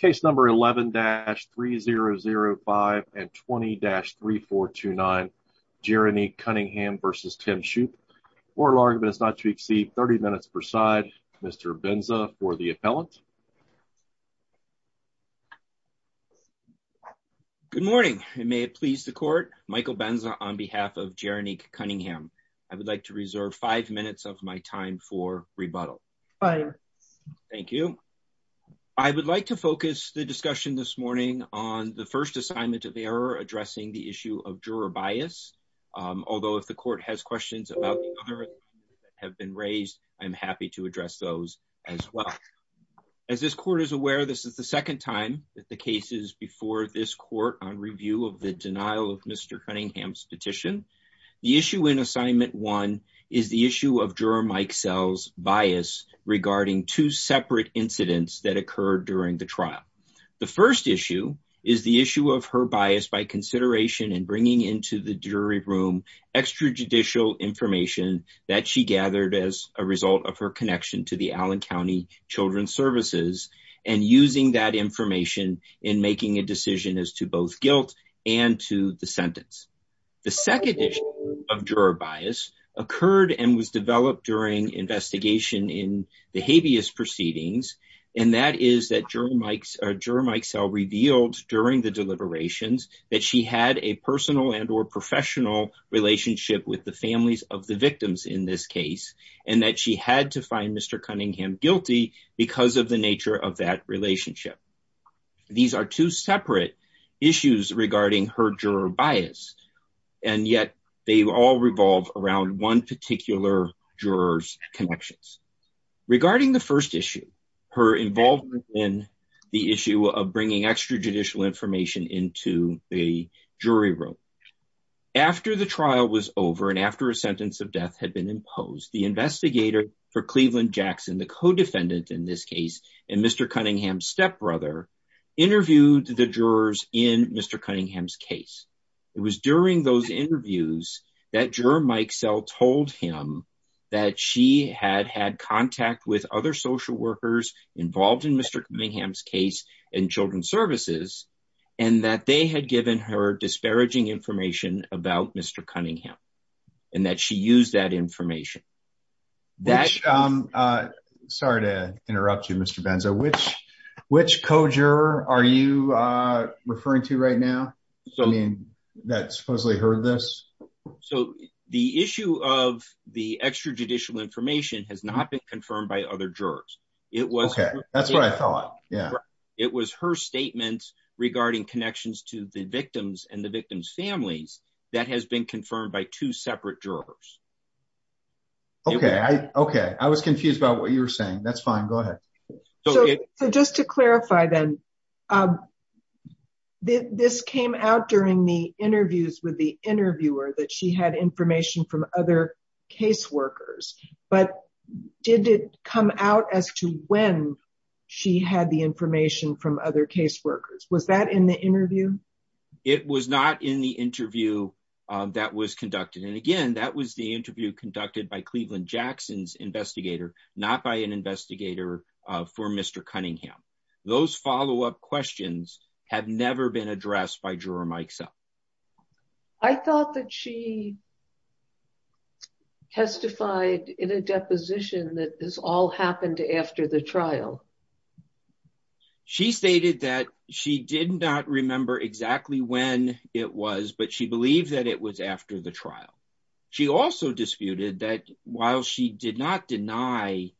Case number 11-3005 and 20-3429, Jeronique Cunningham v. Tim Shoop. Court of argument is not to exceed 30 minutes per side. Mr. Benza for the appellant. Good morning and may it please the court. Michael Benza on behalf of Jeronique Cunningham. I would like to reserve five minutes of my time for rebuttal. Thank you. I would like to focus the discussion this morning on the first assignment of error addressing the issue of juror bias. Although if the court has questions about the other that have been raised, I'm happy to address those as well. As this court is aware, this is the second time that the case is before this court on review of the denial of Mr. Cunningham's petition. The issue in assignment one is the issue of juror Mike Sells' bias regarding two separate incidents that occurred during the trial. The first issue is the issue of her bias by consideration in bringing into the jury room extrajudicial information that she gathered as a result of her connection to the Allen County Children's Services and using that information in making a decision as to both guilt and to the sentence. The second issue of juror bias occurred and was developed during investigation in the habeas proceedings and that is that juror Mike Sells revealed during the deliberations that she had a personal and or professional relationship with the families of the victims in this case and that she had to find Mr. Cunningham guilty because of the nature of that relationship. These are two separate issues regarding her juror bias and yet they all revolve around one particular juror's connections. Regarding the first issue, her involvement in the issue of bringing extrajudicial information into the jury room. After the trial was over and after a sentence of death had been imposed, the investigator for in this case and Mr. Cunningham's stepbrother interviewed the jurors in Mr. Cunningham's case. It was during those interviews that juror Mike Sells told him that she had had contact with other social workers involved in Mr. Cunningham's case and Children's Services and that they had given her disparaging information about Mr. Cunningham and that she used that information. Sorry to interrupt you Mr. Benzo. Which co-juror are you referring to right now? I mean that supposedly heard this. So the issue of the extrajudicial information has not been confirmed by other jurors. Okay, that's what I thought. It was her statements regarding connections to the victims and the victim's families that has been confirmed by two separate jurors. Okay, I was confused about what you were saying. That's fine, go ahead. So just to clarify then, this came out during the interviews with the interviewer that she had information from other caseworkers but did it come out as to when she had the information from other caseworkers? Was that in the interview? It was not in the interview that was conducted and again that was the interview conducted by Cleveland Jackson's investigator not by an investigator for Mr. Cunningham. Those follow-up questions have never been addressed by Juror Mike Sells. I thought that she testified in a deposition that this all happened after the trial. She stated that she did not remember exactly when it was but she believed that it was after the trial. She also disputed that while she did not deny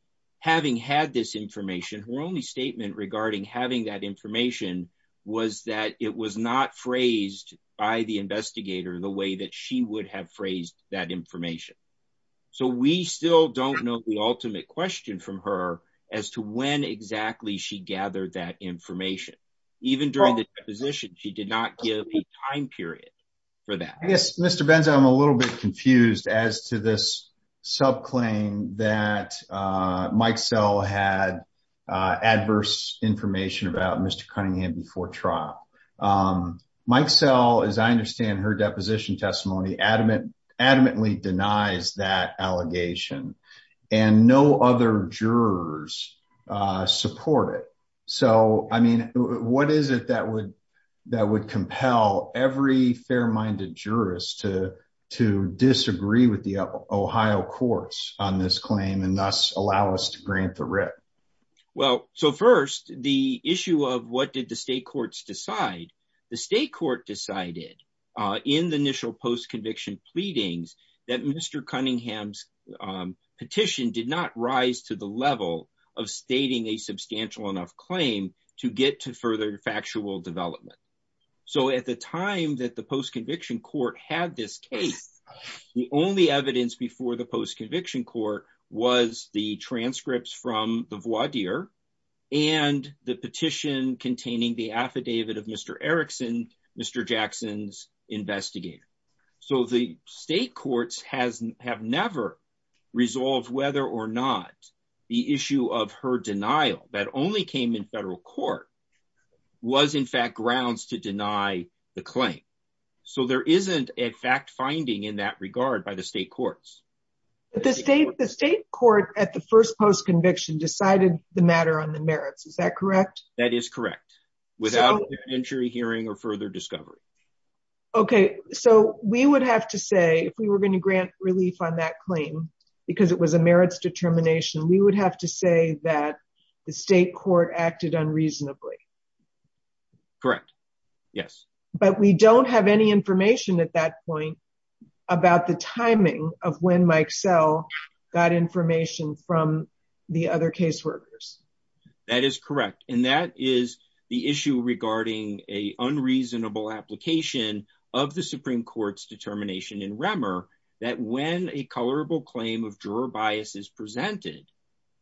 having had this information, her only statement regarding having that information was that it was not phrased by the investigator in the way that she would have phrased that information. So we still don't know the ultimate question from her as to when exactly she gathered that information. Even during the time period for that. I guess Mr. Benza, I'm a little bit confused as to this subclaim that Mike Sell had adverse information about Mr. Cunningham before trial. Mike Sell, as I understand her deposition testimony, adamantly denies that allegation and no other jurors support it. So I every fair-minded jurist to disagree with the Ohio courts on this claim and thus allow us to grant the writ. Well, so first the issue of what did the state courts decide. The state court decided in the initial post-conviction pleadings that Mr. Cunningham's petition did not rise to the level of stating a substantial enough claim to get to further factual development. So at the time that the post-conviction court had this case, the only evidence before the post-conviction court was the transcripts from the voir dire and the petition containing the affidavit of Mr. Erickson, Mr. Cunningham. State courts have never resolved whether or not the issue of her denial that only came in federal court was in fact grounds to deny the claim. So there isn't a fact-finding in that regard by the state courts. The state court at the first post-conviction decided the matter on the merits, is that correct? That is correct. Without an entry hearing or discovery. Okay, so we would have to say if we were going to grant relief on that claim because it was a merits determination, we would have to say that the state court acted unreasonably. Correct, yes. But we don't have any information at that point about the timing of when Mike Sell got information from the other caseworkers. That is correct and that is the issue regarding a unreasonable application of the Supreme Court's determination in Remmer that when a colorable claim of juror bias is presented,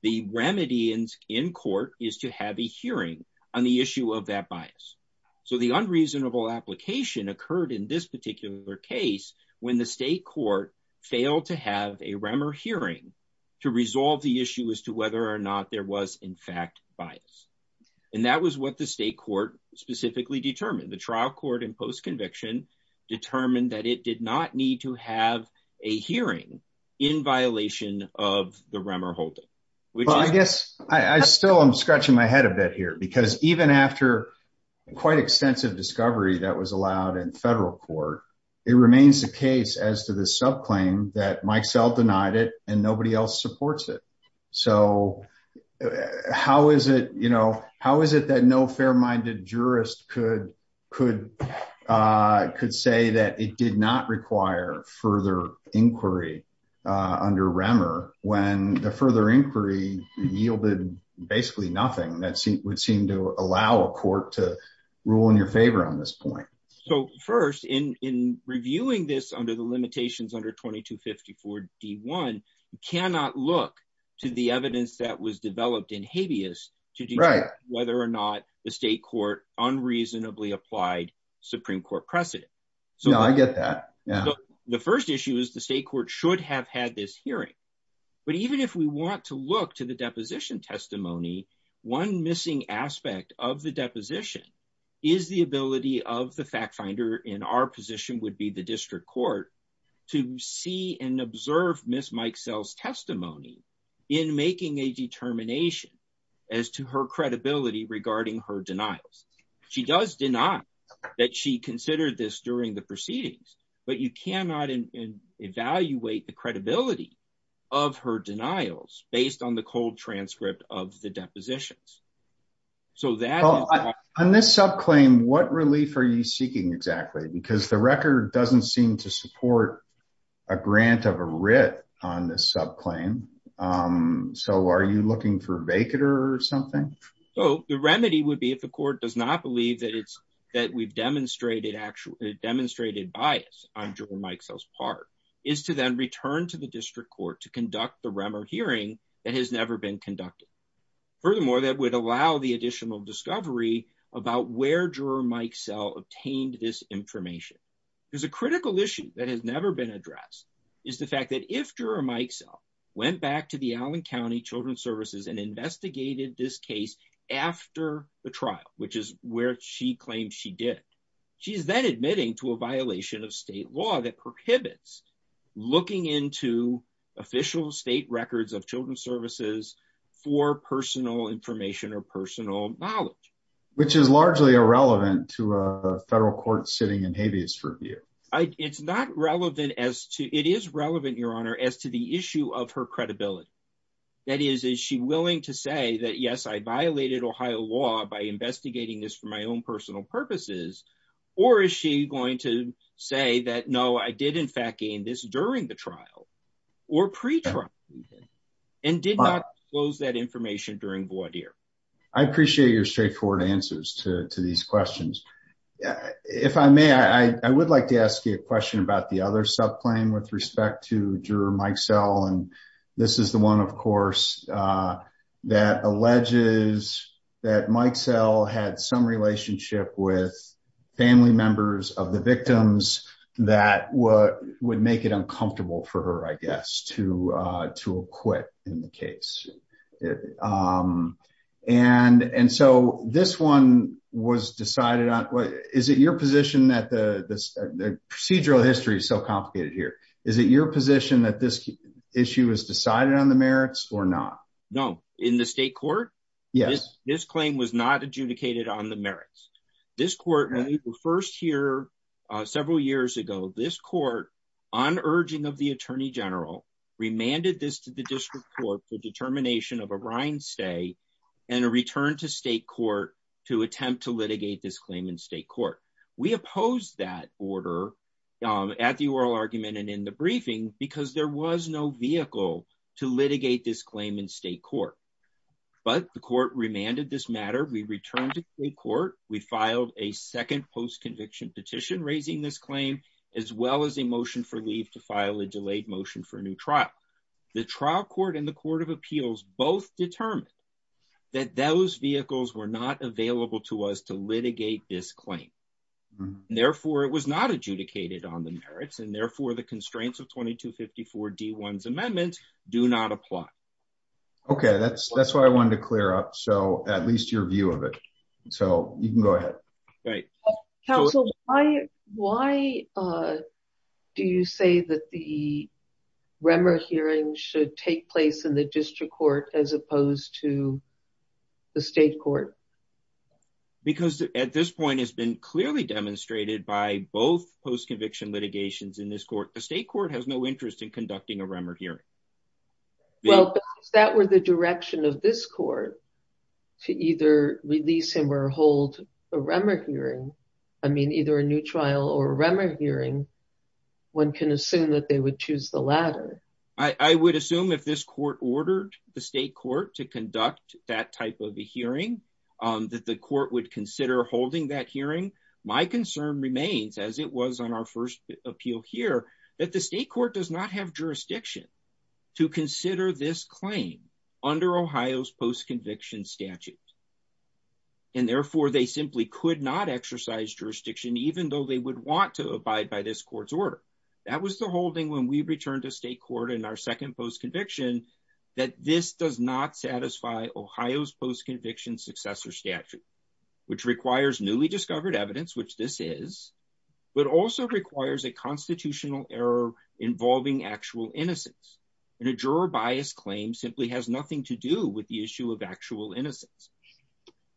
the remedy in court is to have a hearing on the issue of that bias. So the unreasonable application occurred in this particular case when the state court failed to have a Remmer hearing to resolve the issue as to whether or not there was in fact bias. And that was what the state court specifically determined. The trial court in post-conviction determined that it did not need to have a hearing in violation of the Remmer holding. Well, I guess I still am scratching my head a bit here because even after quite extensive discovery that was allowed in federal court, it remains the case as to that Mike Sell denied it and nobody else supports it. So how is it that no fair-minded jurist could say that it did not require further inquiry under Remmer when the further inquiry yielded basically nothing that would seem to allow a court to rule in your favor on this point? So first, in reviewing this under the limitations under 2254 D1, you cannot look to the evidence that was developed in habeas to determine whether or not the state court unreasonably applied Supreme Court precedent. So I get that. The first issue is the state court should have had this hearing. But even if we want to look to the deposition testimony, one missing aspect of the fact finder in our position would be the district court to see and observe Ms. Mike Sell's testimony in making a determination as to her credibility regarding her denials. She does deny that she considered this during the proceedings, but you cannot evaluate the credibility of her denials based on the cold transcript of the depositions. So that... On this subclaim, what relief are you seeking exactly? Because the record doesn't seem to support a grant of a writ on this subclaim. So are you looking for a vacater or something? So the remedy would be if the court does not believe that we've demonstrated bias on Juror Mike Sell's part, is to then return to the district court to conduct the Remmer hearing that has never been conducted. Furthermore, that would allow the additional discovery about where Juror Mike Sell obtained this information. There's a critical issue that has never been addressed, is the fact that if Juror Mike Sell went back to the Allen County Children's Services and investigated this case after the trial, which is where she claimed she did, she's then admitting to a violation of state law that prohibits looking into official state records of children's services for personal information or personal knowledge. Which is largely irrelevant to a federal court sitting in habeas for a year. It's not relevant as to... It is relevant, Your Honor, as to the issue of her credibility. That is, is she willing to say that, yes, I violated Ohio law by investigating this for my personal purposes? Or is she going to say that, no, I did in fact gain this during the trial or pre-trial and did not disclose that information during voir dire? I appreciate your straightforward answers to these questions. If I may, I would like to ask you a question about the other subclaim with respect to Juror Mike Sell. And this is the one, of course, that alleges that Mike Sell had some relationship with family members of the victims that would make it uncomfortable for her, I guess, to acquit in the case. And so this one was decided on... Is it your position that the procedural history is so complicated here? Is it your position that this issue was decided on the merits or not? No. In the state court? Yes. This claim was not adjudicated on the merits. This court, when we were first here several years ago, this court, on urging of the Attorney General, remanded this to the district court for determination of a rind stay and a return to state court to attempt to litigate this claim in state court. We opposed that order at the oral argument and in the briefing because there was no vehicle to litigate this claim in state court. But the court remanded this matter. We returned to state court. We filed a second post-conviction petition raising this claim, as well as a motion for leave to file a delayed motion for a new trial. The trial court and the court of appeals both determined that those on the merits and therefore the constraints of 2254 D1's amendments do not apply. Okay. That's why I wanted to clear up. So at least your view of it. So you can go ahead. Right. Counsel, why do you say that the Remmer hearing should take place in the district court as opposed to the state court? Because at this point, it's been clearly demonstrated by both post-conviction litigations in this court. The state court has no interest in conducting a Remmer hearing. Well, if that were the direction of this court to either release him or hold a Remmer hearing, I mean, either a new trial or a Remmer hearing, one can assume that they would choose the latter. I would assume if this court ordered the state court to conduct that type of a hearing, that the court would consider holding that hearing. My concern remains as it was on our first appeal here, that the state court does not have jurisdiction to consider this claim under Ohio's post-conviction statute. And therefore they simply could not exercise jurisdiction, even though they would want to abide by this court's order. That was the holding when we returned to state court in our second post-conviction that this does not satisfy Ohio's post-conviction successor statute, which requires newly discovered evidence, which this is, but also requires a constitutional error involving actual innocence. And a juror bias claim simply has nothing to do with the issue of actual innocence.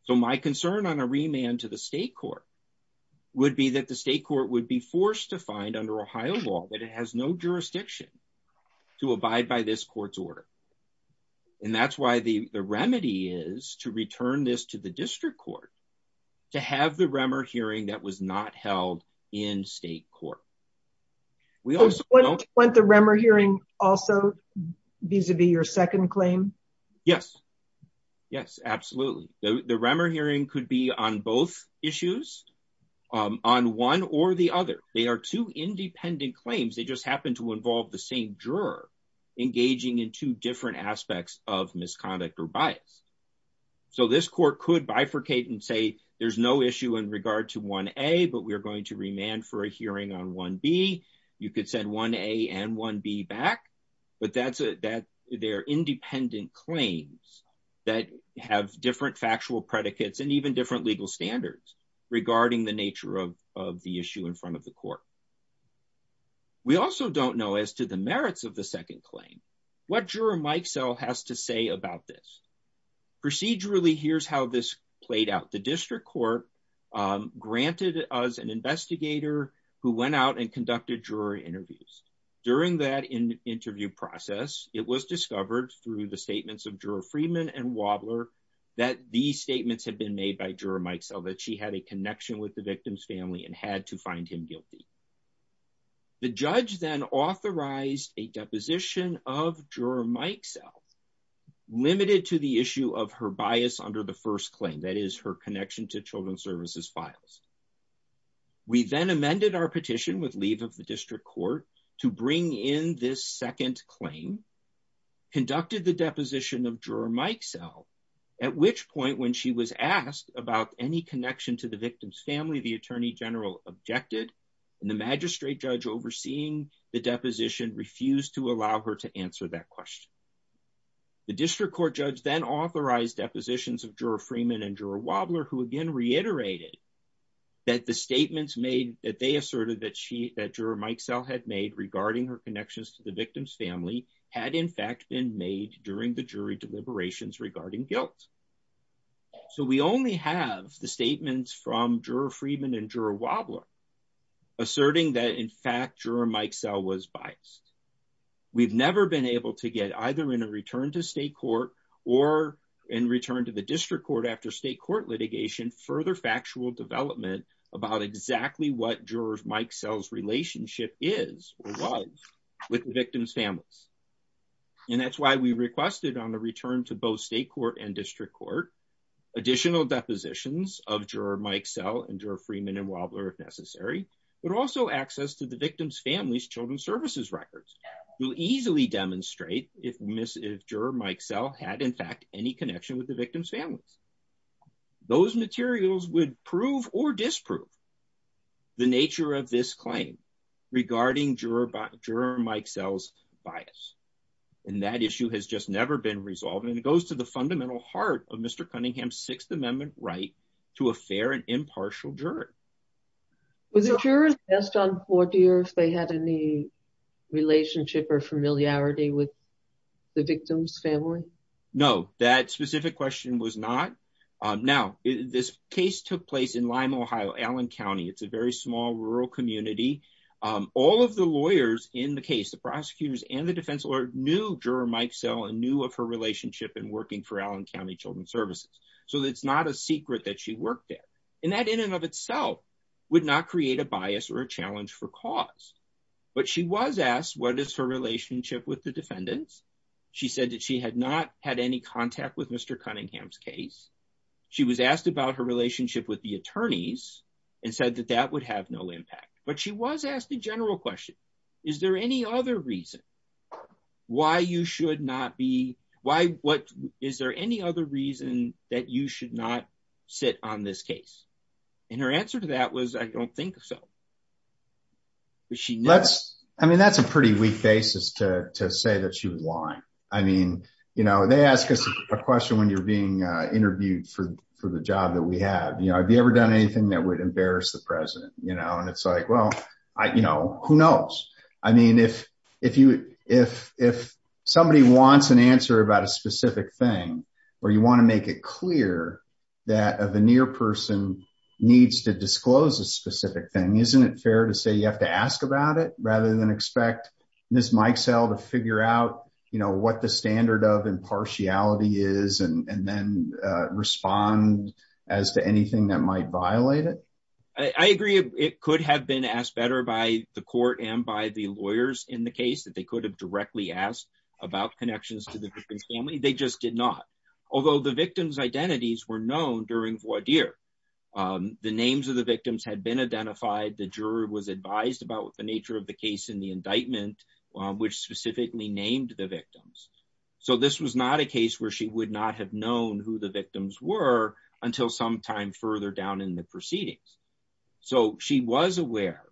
So my concern on a remand to the state court would be that the state court would be forced to find under Ohio law that it has no jurisdiction to abide by this court's order. And that's why the remedy is to return this to the district court, to have the Remmer hearing that was not held in state court. We also want the Remmer hearing also vis-a-vis your second claim. Yes, yes, absolutely. The Remmer hearing could be on both issues, on one or the other. They are two independent claims. They just happen to involve the same juror engaging in two different aspects of misconduct or bias. So this court could bifurcate and say, there's no issue in regard to 1A, but we're going to remand for a hearing on 1B. You could send 1A and 1B back, but they're independent claims that have different factual predicates and even different legal standards regarding the nature of the issue in front of the court. We also don't know as to the merits of the second claim, what juror Mike Sell has to say about this. Procedurally, here's how this played out. The district court granted us an investigator who went out and conducted juror interviews. During that interview process, it was discovered through the statements of Juror Friedman and Wadler that these statements had been made by Juror Mike Sell, that she had a connection with the victim's family and had to find him guilty. The judge then authorized a deposition of Juror Mike Sell, limited to the issue of her bias under the first claim, that is her connection to children's services files. We then amended our petition with leave of the district court to bring in this second claim, conducted the deposition of Juror Mike Sell, at which point when she was asked about any connection to the victim's family, the attorney general objected and the magistrate judge overseeing the deposition refused to allow her to answer that question. The district court judge then authorized depositions of Juror Friedman and Wadler, who again reiterated that the statements made that they asserted that Juror Mike Sell had made regarding her connections to the victim's family had in fact been made during the jury deliberations regarding guilt. So we only have the statements from Juror Friedman and Wadler asserting that in fact Juror Mike Sell was biased. We've never been able to get either in a return to state court or in return to the district court after state court litigation, further factual development about exactly what Juror Mike Sell's relationship is or was with the victim's families. And that's why we requested on the return to both state court and district court, additional depositions of Juror Mike Sell and Juror Friedman and Wadler if necessary, but also access to the victim's family's children's services records. We'll easily demonstrate if Juror Mike Sell had in fact any connection with the victim's families. Those materials would prove or disprove the nature of this claim regarding Juror Mike Sell's bias. And that issue has just never been resolved. And it goes to the fundamental heart of Mr. Cunningham's Sixth Amendment right to a fair and impartial juror. Was the juror assessed on Fortier if they had any relationship or familiarity with the victim's family? No, that specific question was not. Now, this case took place in Lima, Ohio, Allen County. It's a very small rural community. All of the lawyers in the case, the prosecutors and the defense lawyer knew Juror Mike Sell and knew of her relationship and working for Allen County Children's Services. So it's not a secret that she worked there. And that in and of itself would not create a bias or a challenge for cause. But she was asked what is her relationship with the defendants? She said that she had not had any contact with Mr. Cunningham's case. She was asked about her relationship with the attorneys and said that that would have no impact. But she was asked a general question. Is there any other reason why you should not be? Why? What? Is there any other reason that you should not sit on this case? And her answer to that was, I don't think so. I mean, that's a pretty weak basis to say that she was lying. I mean, they ask us a question when you're being interviewed for the job that we have. Have you ever done anything that would embarrass the president? And it's like, well, who knows? I mean, if somebody wants an answer about a specific thing, or you want to make it clear that a veneer person needs to disclose a specific thing, isn't it fair to say you have to ask about it rather than expect Ms. Mikesell to figure out what the standard of impartiality is and then respond as to anything that might violate it? I agree. It could have been asked better by the court and by the lawyers in the case that could have directly asked about connections to the victim's family. They just did not. Although the victim's identities were known during voir dire. The names of the victims had been identified. The juror was advised about the nature of the case in the indictment, which specifically named the victims. So this was not a case where she would not have known who the victims were until some time further down in the proceedings. So she was aware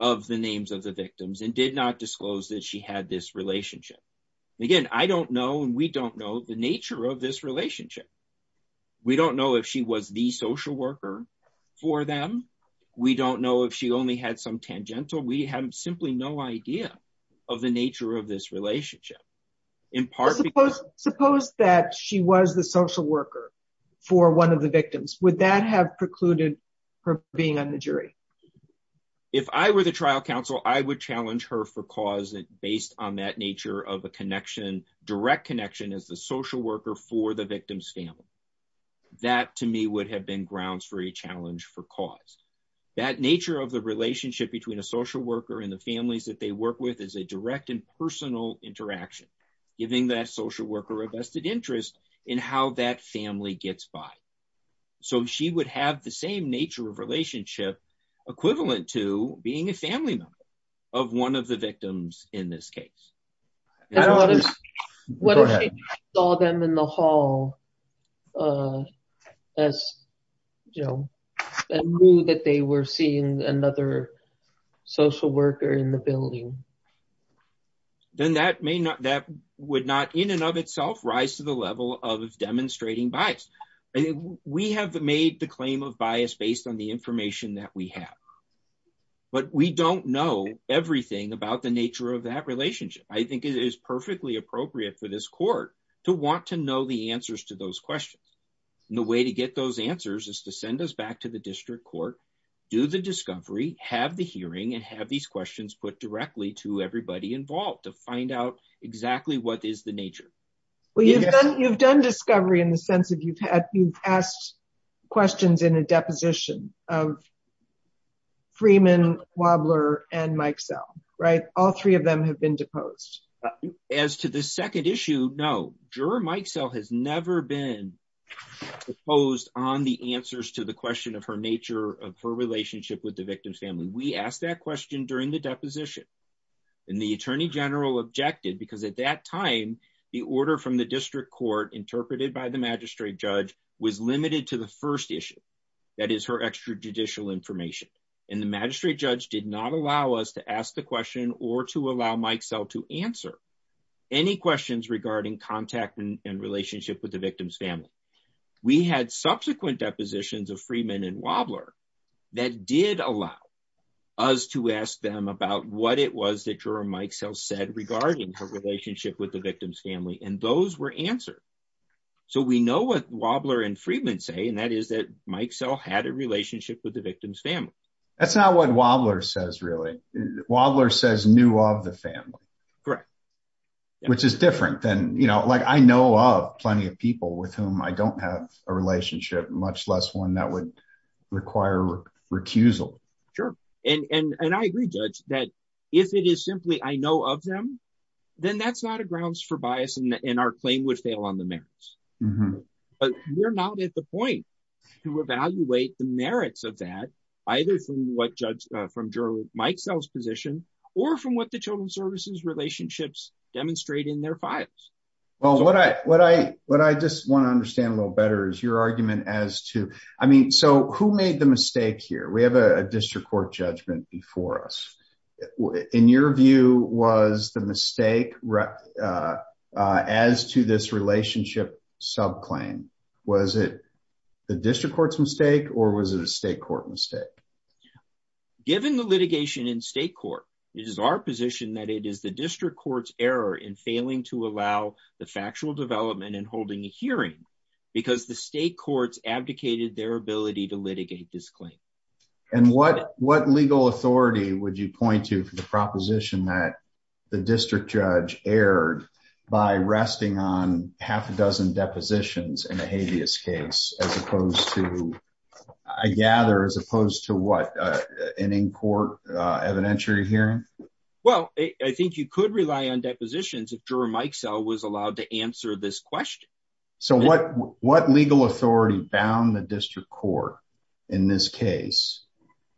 of the names of the victims and did not disclose that she had this relationship. Again, I don't know, and we don't know the nature of this relationship. We don't know if she was the social worker for them. We don't know if she only had some tangential. We have simply no idea of the nature of this relationship. Suppose that she was the social worker for one of the victims. Would that have precluded her being on the jury? If I were the trial counsel, I would challenge her for cause that based on that nature of a connection, direct connection as the social worker for the victim's family. That to me would have been grounds for a challenge for cause. That nature of the relationship between a social worker and the families that they work with is a direct and personal interaction, giving that social worker a vested interest in how that family gets by. So she would have the same nature of relationship equivalent to being a family member of one of the victims in this case. What if she saw them in the hall as, you know, and knew that they were seeing another social worker in the building? Then that may not, that would not in and of itself rise to the level of demonstrating bias. I think we have made the claim of bias based on the information that we have, but we don't know everything about the nature of that relationship. I think it is perfectly appropriate for this court to want to know the answers to those questions. The way to get those answers is to send us back to the district court, do the discovery, have the hearing, and have these questions put directly to everybody involved to find out exactly what is the nature. Well, you've done discovery in the sense of you've asked questions in a deposition of Freeman, Wobbler, and Mikesell, right? All three of them have been deposed. As to the second issue, no. Juror Mikesell has never been deposed on the answers to the question of her nature of her relationship with the victim's family. We asked that question during the deposition, and the attorney general objected because at that time, the order from the district court interpreted by the magistrate judge was limited to the first issue, that is, her extrajudicial information. The magistrate judge did not allow us to ask the question or to allow Mikesell to answer any questions regarding contact and relationship with the victim's family. We had subsequent depositions of Freeman and Wobbler that did allow us to ask them about what it was that Juror Mikesell said regarding her relationship with the victim's family, and those were answered. So we know what Wobbler and Freeman say, and that is that Mikesell had a relationship with the victim's family. That's not what Wobbler says, really. Wobbler says, knew of the family. Correct. Which is different than, you know, like I know of plenty of people with whom I don't have a relationship, much less one that would require recusal. Sure. And I agree, Judge, that if it is simply I know of them, then that's not a grounds for bias, and our claim would fail on the merits. But we're not at the point to evaluate the merits of that, either from what Judge, from Juror Mikesell's position, or from what the Children's Services relationships demonstrate in their files. Well, what I just want to understand a little better is your argument as to, I mean, so who made the mistake here? We have a district court judgment before us. In your view, was the mistake as to this relationship subclaim, was it the district court's mistake, or was it a state court mistake? Given the litigation in state court, it is our position that it is the district court's error in failing to allow the factual development in their ability to litigate this claim. And what legal authority would you point to for the proposition that the district judge erred by resting on half a dozen depositions in a habeas case, as opposed to, I gather, as opposed to what, an in-court evidentiary hearing? Well, I think you could rely on depositions if Juror Mikesell was allowed to answer this question. So what legal authority bound the district court in this case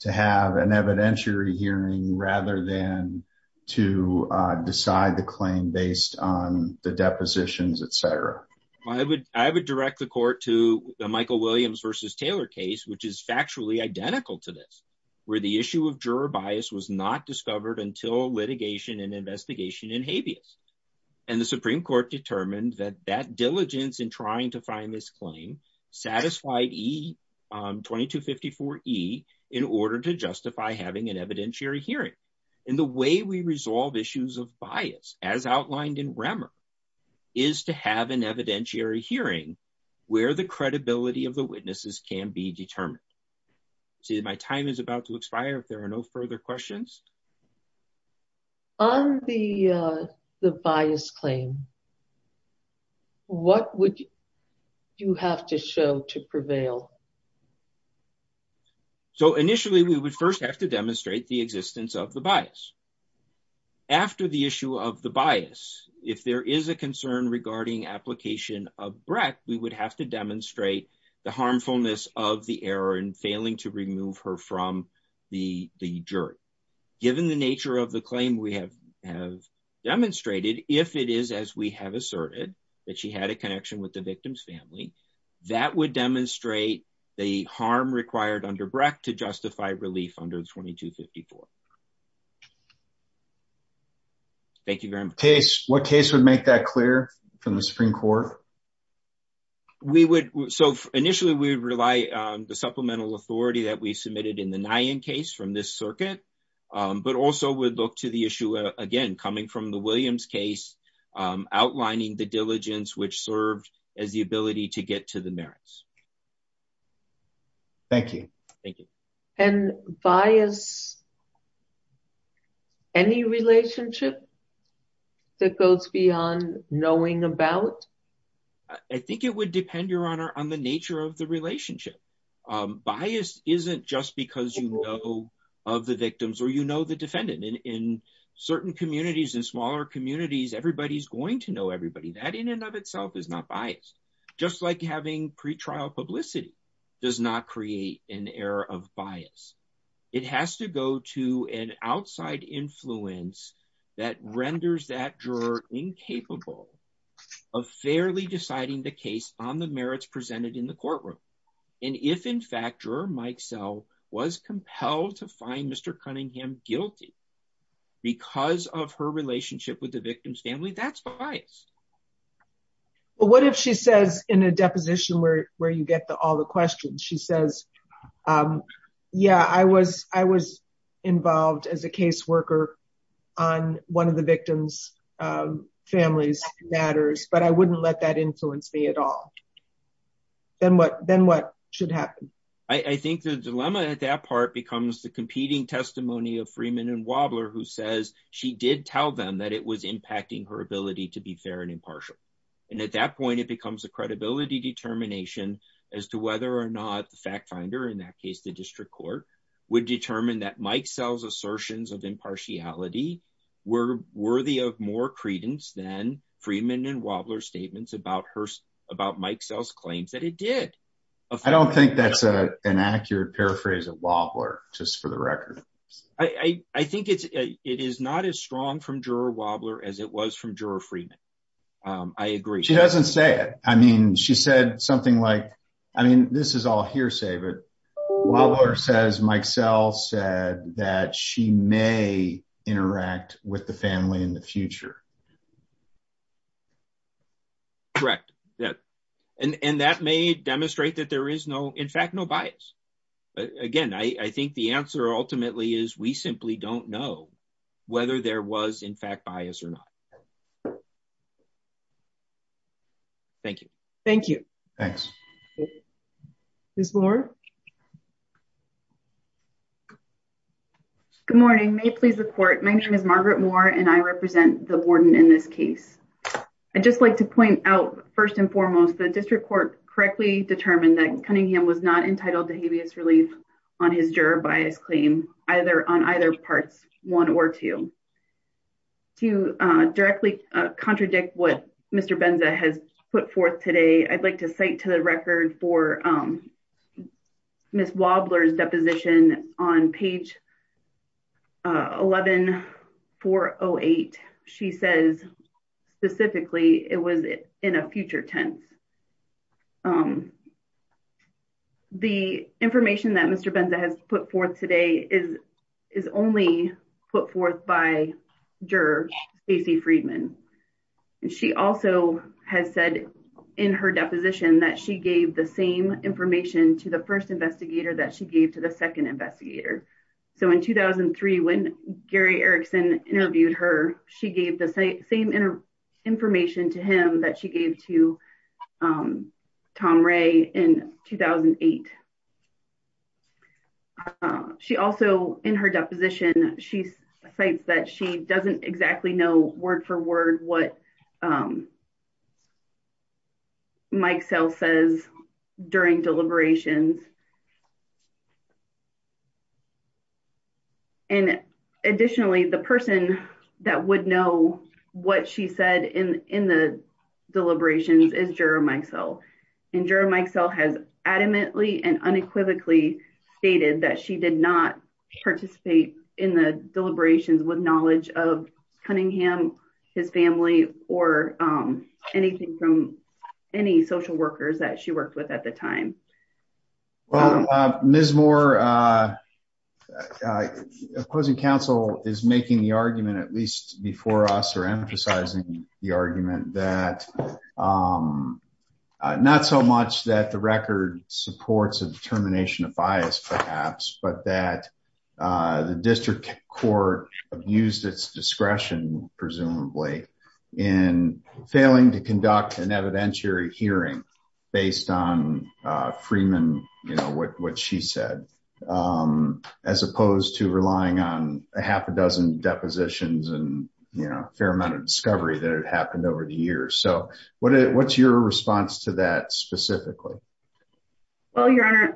to have an evidentiary hearing rather than to decide the claim based on the depositions, etc.? I would direct the court to the Michael Williams v. Taylor case, which is factually identical to this, where the issue of juror bias was not discovered until litigation and investigation in habeas. And the Supreme Court determined that that diligence in trying to find this claim satisfied 2254E in order to justify having an evidentiary hearing. And the way we resolve issues of bias, as outlined in Remmer, is to have an evidentiary hearing where the credibility of the witnesses can be determined. See, my time is about to expire if there are no further questions. On the bias claim, what would you have to show to prevail? So initially, we would first have to demonstrate the existence of the bias. After the issue of the bias, if there is a concern regarding application of Brett, we would have to demonstrate the harmfulness of the error in failing to remove her from the jury. Given the nature of the claim we have demonstrated, if it is as we have asserted, that she had a connection with the victim's family, that would demonstrate the harm required under Brett to justify relief under 2254. Thank you very much. What case would make that clear from the Supreme Court? So initially, we would rely on the supplemental authority that we submitted in the Nyhan case from this circuit, but also would look to the issue, again, coming from the Williams case, outlining the diligence which served as the ability to get to the merits. Thank you. Thank you. And bias, any relationship that goes beyond knowing about? I think it would depend, Your Honor, on the nature of the relationship. Bias isn't just because you know of the victims or you know the defendant. In certain communities, in smaller communities, everybody's going to know everybody. That in and of itself is not bias. Just like having pretrial publicity does not create an error of bias. It has to go to an outside influence that renders that juror incapable of fairly deciding the case on the merits presented in the courtroom. And if, in fact, Juror Mike Sell was compelled to find Mr. Cunningham guilty because of her relationship with the victim's family, that's biased. Well, what if she says in a deposition where you get to all the questions, she says, yeah, I was involved as a caseworker on one of the victim's family's matters, but I wouldn't let that influence me at all. Then what should happen? I think the dilemma at that part becomes the competing testimony of Freeman and Wobler, who says she did tell them that it was impacting her ability to be fair and impartial. And at that point, it becomes a credibility determination as to whether or not the fact finder, in that case, the district court, would determine that Mike Sell's assertions of impartiality were worthy of more credence than Freeman and Wobler's statements about Mike Sell's claims that it did. I don't think that's an accurate paraphrase of Wobler, just for the record. I think it is not as strong from Juror Wobler as it was from Juror Freeman. I agree. She doesn't say it. I mean, she said something like, I mean, this is all hearsay, but Wobler says Mike Sell said that she may interact with the family in the future. Correct. And that may demonstrate that there is no, in fact, no bias. Again, I think the answer ultimately is we simply don't know whether there was, in fact, bias or not. Thank you. Thank you. Thanks. Ms. Moore. Good morning. My name is Margaret Moore, and I represent the Warren County District Court. In this case, I'd just like to point out first and foremost, the District Court correctly determined that Cunningham was not entitled to habeas relief on his juror bias claim either on either parts one or two. To directly contradict what Mr. Benza has put forth today, I'd like to cite to the record for Ms. Wobler's deposition on page 11408. She says, specifically, it was in a future tense. The information that Mr. Benza has put forth today is only put forth by juror Stacey Friedman. She also has said in her deposition that she gave the same information to the first investigator that she gave to the second investigator. So in 2003, when Gary Erickson interviewed her, she gave the same information to him that she gave to Tom Ray in 2008. She also, in her deposition, she cites that she doesn't exactly know word for word what Mike Sell says during deliberations. And additionally, the person that would know what she said in the deliberations is juror Mike Sell. And juror Mike Sell has adamantly and unequivocally stated that she did not participate in the deliberations with knowledge of Cunningham, his family, or anything from any social workers that she worked with at the time. Well, Ms. Moore, opposing counsel is making the argument, at least before us, or emphasizing the argument that not so much that the record supports a determination of bias, perhaps, but that the district court used its discretion, presumably, in failing to conduct an evidentiary hearing based on Freeman, what she said, as opposed to relying on a half a dozen depositions and a fair amount of discovery that had happened over the years. So what's your response to that specifically? Well, Your Honor,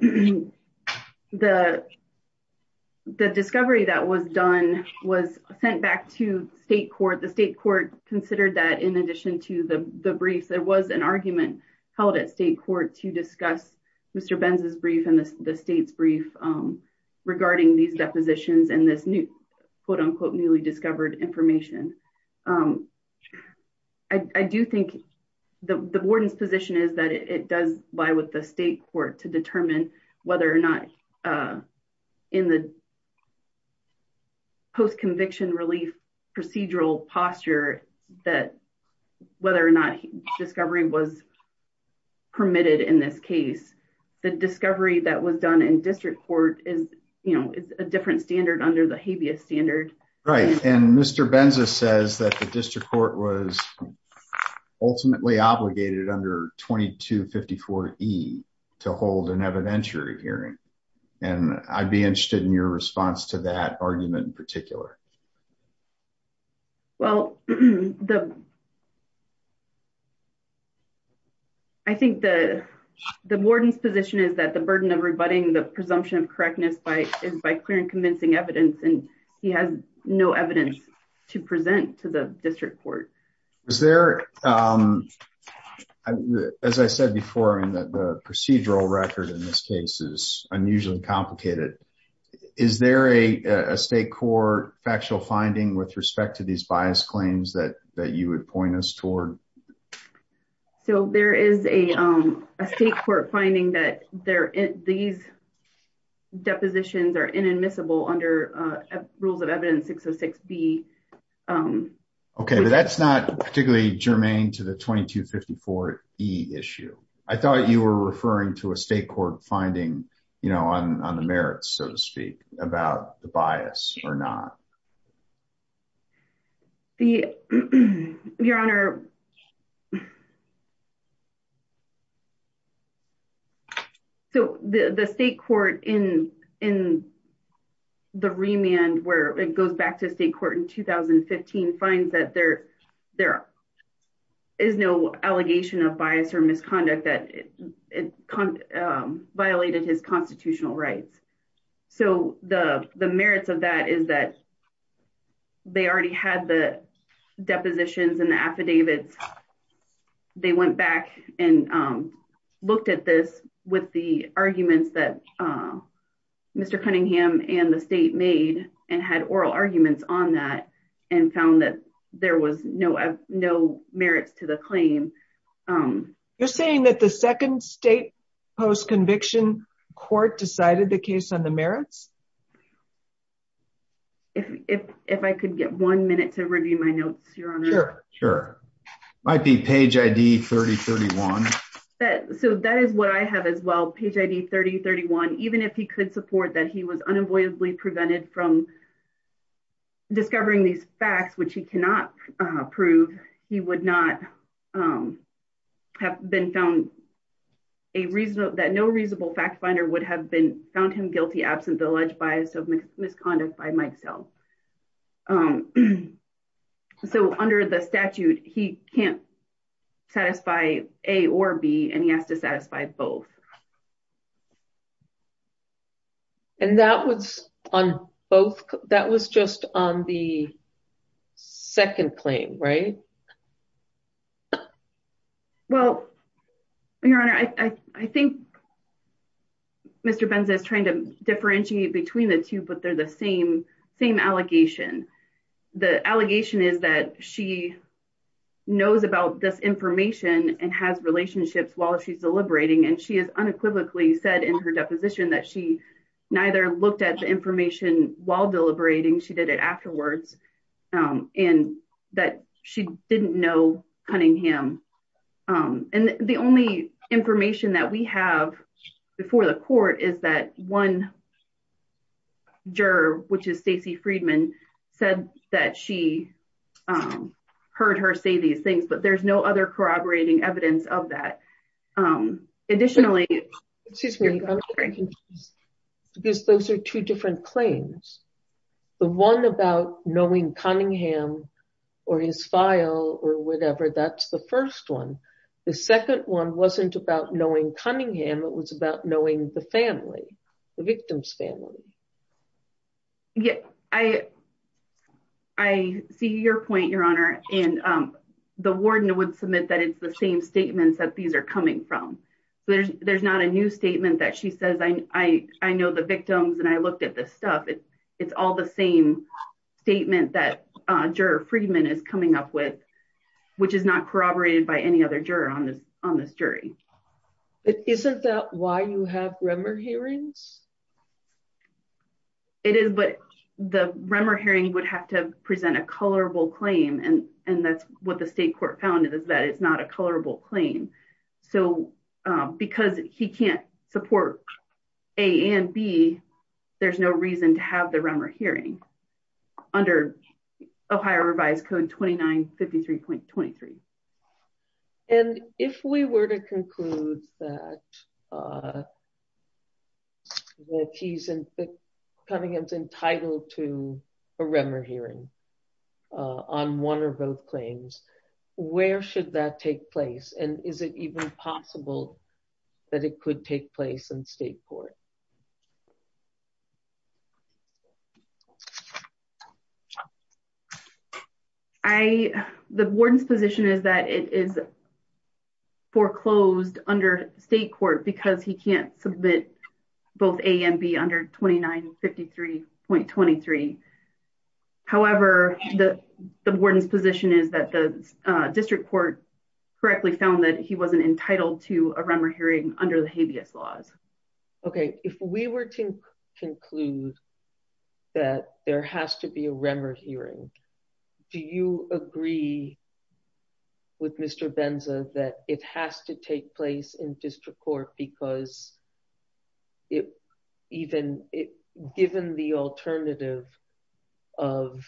the discovery that was done was sent back to state court. The state court considered that in addition to the briefs, there was an argument held at state court to discuss Mr. Benz's brief and the state's brief regarding these depositions and this new, quote unquote, newly discovered information. I do think the warden's position is that it does lie with the state court to determine whether or not in the post-conviction relief procedural posture that whether or not discovery was permitted in this case. The discovery that was done in district court is a different standard under the habeas standard. Right. And Mr. Benz says that the district court was ultimately obligated under 2254E to hold an evidentiary hearing. And I'd be interested in your response to that argument in particular. Well, I think the warden's position is that the burden of rebutting the presumption of correctness is by clear and convincing evidence, and he has no evidence to present to the district court. Is there, as I said before, in the procedural record in this case is unusually complicated. Is there a state court factual finding with respect to these bias claims that you would point us toward? So there is a state court finding that these depositions are inadmissible under rules of evidence 606B. OK, but that's not particularly germane to the 2254E issue. I thought you were referring to a state court finding on the merits, so to speak, about the bias or not. Your Honor, so the state court in the remand where it goes back to state court in 2015 finds that there is no allegation of bias or misconduct that violated his constitutional rights. So the merits of that is that they already had the depositions and the affidavits. They went back and looked at this with the arguments that Mr. Cunningham and the state made and had oral arguments on that and found that there was no merits to the claim. You're saying that the second state post-conviction court decided the case on the merits? If I could get one minute to review my notes, Your Honor. Sure, sure. Might be page ID 3031. So that is what I have as well, page ID 3031. Even if he could support that he was unavoidably prevented from discovering these facts, which he cannot prove, he would not have been found a reason that no reasonable fact finder would have been found him guilty absent the alleged bias of misconduct by myself. So under the statute, he can't satisfy A or B, and he has to satisfy both. And that was on both? That was just on the second claim, right? Well, Your Honor, I think Mr. Benza is trying to differentiate between the two, but they're the same allegation. The allegation is that she knows about this information and has relationships while she's deliberating, and she has unequivocally said in her deposition that she neither looked at the information while deliberating, she did it afterwards, and that she didn't know Cunningham. And the only information that we have before the court is that one juror, which is Stacy Friedman, said that she heard her say these things, but there's no other corroborating evidence of that. Additionally, excuse me, because those are two different claims. The one about knowing Cunningham or his file or whatever, that's the first one. The second one wasn't about knowing Cunningham. It was about knowing the family, the victim's family. Yeah, I see your point, Your Honor. And the warden would submit that it's the same statements that these are coming from. There's not a new statement that she says, I know the victims and I looked at this stuff. It's all the same statement that Juror Friedman is coming up with, which is not corroborated by any other juror on this jury. Isn't that why you have Remmer hearings? It is, but the Remmer hearing would have to present a colorable claim, and that's what the state court found is that it's not a colorable claim. So because he can't support A and B, there's no reason to have the Remmer hearing under Ohio Revised Code 2953.23. And if we were to conclude that Cunningham's entitled to a Remmer hearing on one or both claims, where should that take place? And is it even possible that it could take place in state court? The warden's position is that it is foreclosed under state court because he can't submit both A and B under 2953.23. However, the warden's position is that the district court correctly found that he wasn't entitled to a Remmer hearing under the habeas laws. Okay, if we were to conclude that there has to be a Remmer hearing, do you agree with Mr. Benza that it has to take place in district court because given the alternative, of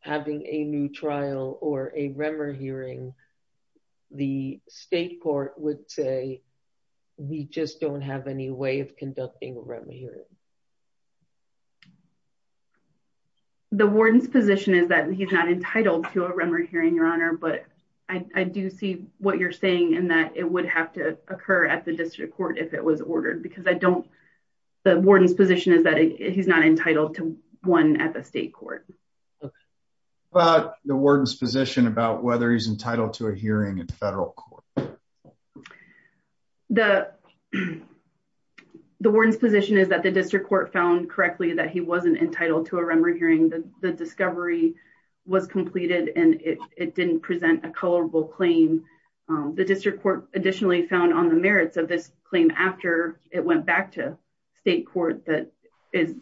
having a new trial or a Remmer hearing, the state court would say we just don't have any way of conducting a Remmer hearing? The warden's position is that he's not entitled to a Remmer hearing, Your Honor, but I do see what you're saying and that it would have to occur at the district court if it was ordered because the warden's position is that he's not entitled to one at the state court. What about the warden's position about whether he's entitled to a hearing in federal court? The warden's position is that the district court found correctly that he wasn't entitled to a Remmer hearing. The discovery was completed and it didn't present a colorable claim. The district court additionally found on the merits of this claim after it went back to state court that is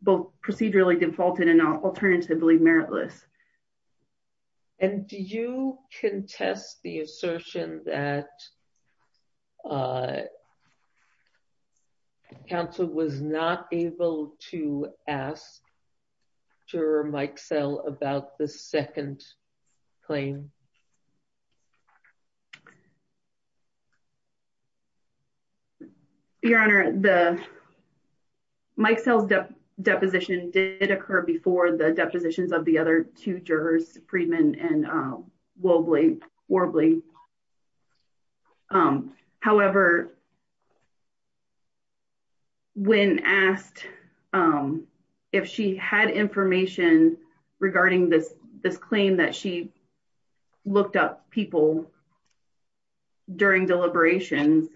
both procedurally defaulted and alternatively meritless. Do you contest the assertion that counsel was not able to ask Juror Mike Sell about the second claim? Your Honor, Mike Sell's deposition did occur before the depositions of the other two jurors, Friedman and Worbley. However, when asked if she had information regarding this claim that she looked up people during deliberations,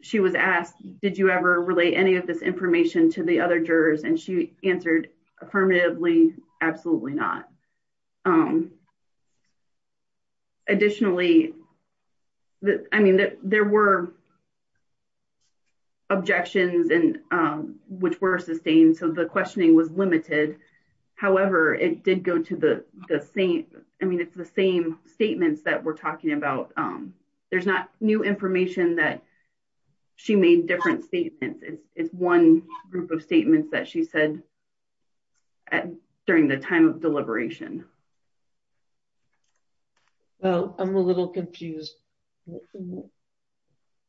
she was asked, did you ever relate any of this information to the other jurors? And she answered affirmatively, absolutely not. Additionally, there were objections which were sustained, so the questioning was limited. However, it did go to the same, I mean, it's the same statements that we're talking about. There's not new information that she made different statements. It's one group of statements that she said during the time of deliberation. Well, I'm a little confused.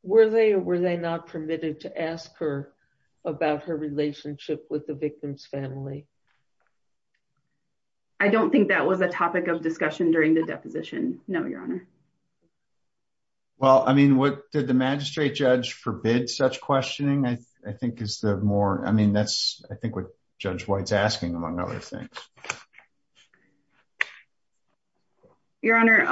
Were they or were they not permitted to ask her about her relationship with the victim's family? I don't think that was a topic of discussion during the deposition. No, Your Honor. Well, I mean, what did the magistrate judge forbid such questioning? I think is the more, I mean, that's I think what Judge White's asking among other things. Your Honor,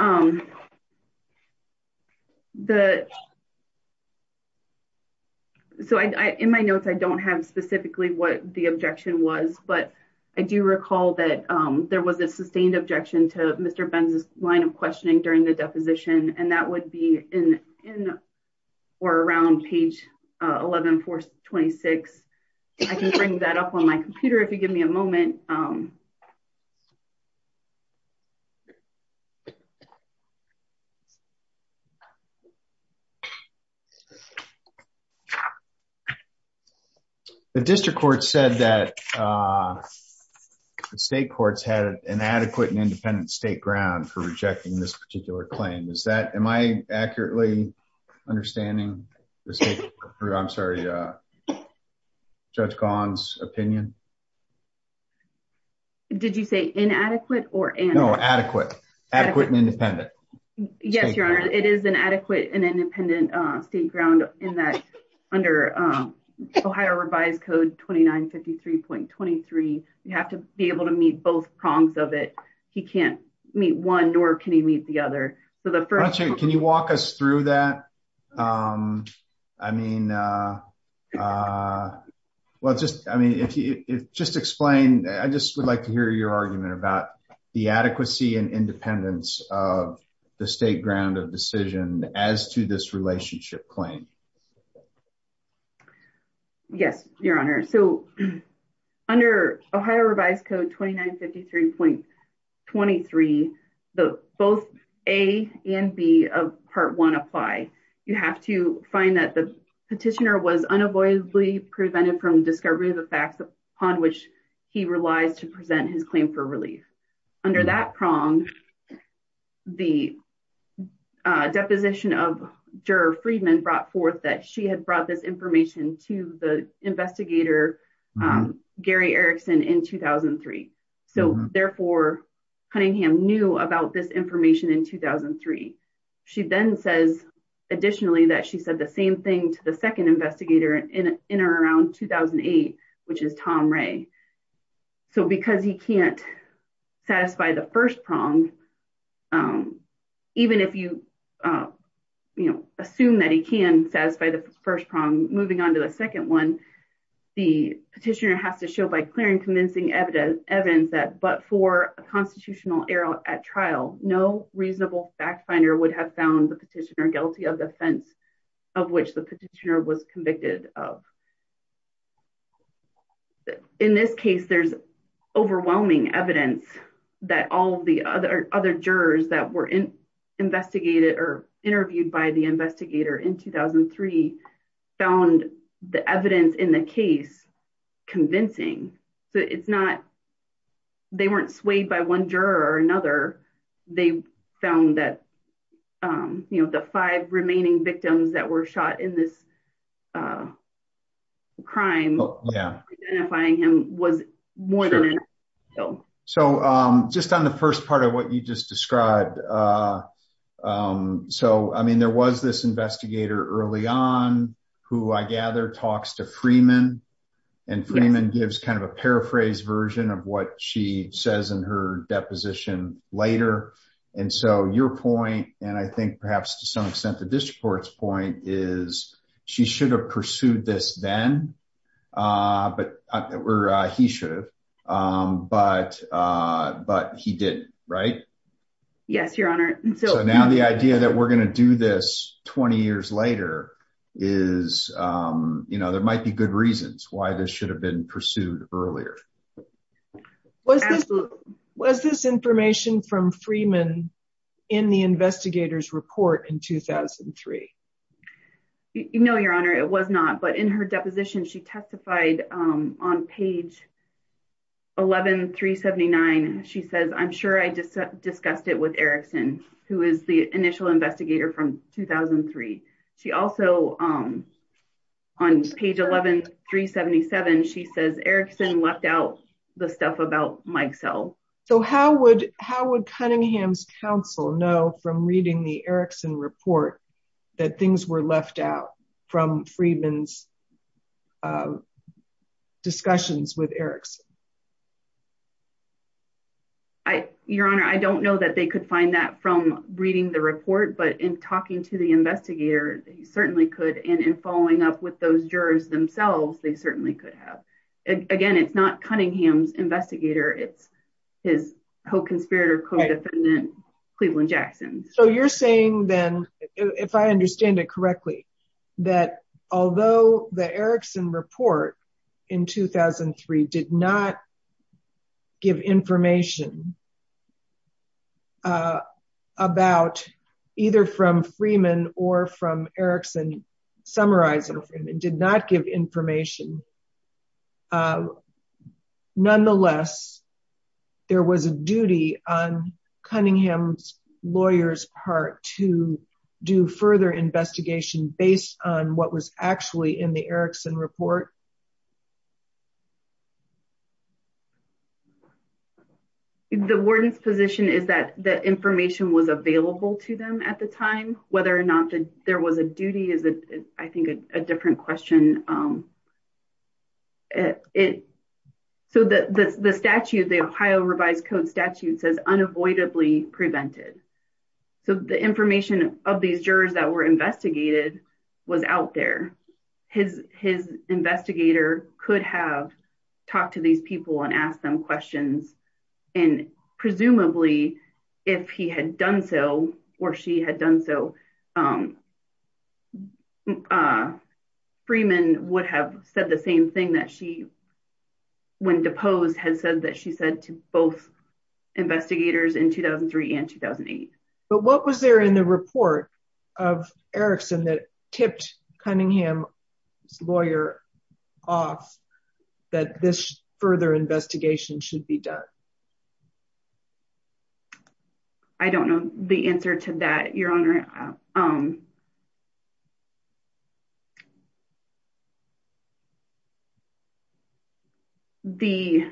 so in my notes, I don't have specifically what the objection was, but I do recall that there was a sustained objection to Mr. Benz's line of questioning during the deposition, and that would be in or around page 11426. I can bring that up on my computer if you give me a moment. The district court said that state courts had an adequate and independent state ground for rejecting this particular claim. Is that, am I accurately understanding the state? I'm sorry, Judge Gahan's opinion. Did you say inadequate or adequate and independent? Yes, Your Honor, it is an adequate and independent state ground in that under Ohio revised code 2953.23, you have to be able to meet both prongs of it. He can't meet one nor can he meet the other. Can you walk us through that? I mean, just explain, I just would like to hear your argument about the adequacy and independence of the state ground of decision as to this relationship claim. Yes, Your Honor. So under Ohio revised code 2953.23, both A and B of part one apply. You have to find that the petitioner was unavoidably prevented from discovery of the facts upon which he relies to present his claim for relief. Under that prong, the deposition of juror Friedman brought forth that she had brought this information to the investigator Gary Erickson in 2003. So therefore, Cunningham knew about this information in 2003. She then says additionally that she said the same thing to the second investigator in or around 2008, which is Tom Ray. So because he can't satisfy the first prong, even if you assume that he can satisfy the first prong, moving on to the second one, the petitioner has to show by clearing convincing evidence that but for a constitutional error at trial, no reasonable fact finder would have found the petitioner guilty of the offense of which the petitioner was convicted of. In this case, there's overwhelming evidence that all the other jurors that were investigated or interviewed by the investigator in 2003 found the evidence in the case convincing. So it's not, they weren't swayed by one juror or another. They found that, you know, the five remaining victims that were shot in this crime, identifying him was more than enough. So just on the first part of what you just described, so I mean, there was this investigator early on, who I gather talks to Freeman, and Freeman gives kind of a paraphrased version of what she says in her deposition later. And so your point, and I think perhaps to some extent, the district court's point is, she should have pursued this then. But we're he should have. But But he did, right? Yes, Your Honor. So now the idea that we're going to do this 20 years later, is, you know, there might be good reasons why this should have been pursued earlier. Was this information from Freeman in the investigator's report in 2003? No, Your Honor, it was not. But in her deposition, she testified on page 11-379. She says, I'm sure I just discussed it with Erickson, who is the initial investigator from 2003. She also, on page 11-377, she says Erickson left out the stuff about Mike Sell. So how would how would Cunningham's counsel know from reading the Erickson report, that things were left out from Freeman's discussions with Erickson? I, Your Honor, I don't know that they could find that from reading the report. But in talking to the investigator, they certainly could. And in following up with those jurors themselves, they certainly could have. Again, it's not Cunningham's investigator, it's his co-conspirator, co-defendant, Cleveland Jackson. So you're saying then, if I understand it correctly, that although the Erickson report in 2003 did not give information about either from Freeman or from Erickson, summarizing Freeman, did not give information. Nonetheless, there was a duty on Cunningham's lawyer's part to do further investigation based on what was actually in the Erickson report? The warden's position is that that information was available to them at the time. Whether or not it so that the statute, the Ohio Revised Code statute says unavoidably prevented. So the information of these jurors that were investigated was out there. His investigator could have talked to these people and asked them questions. And presumably, if he had done so, or she had done so, Freeman would have said the same thing that she, when deposed, had said that she said to both investigators in 2003 and 2008. But what was there in the report of Erickson that tipped Cunningham's lawyer off that this further investigation should be done? I don't know the answer to that, Your Honor. The,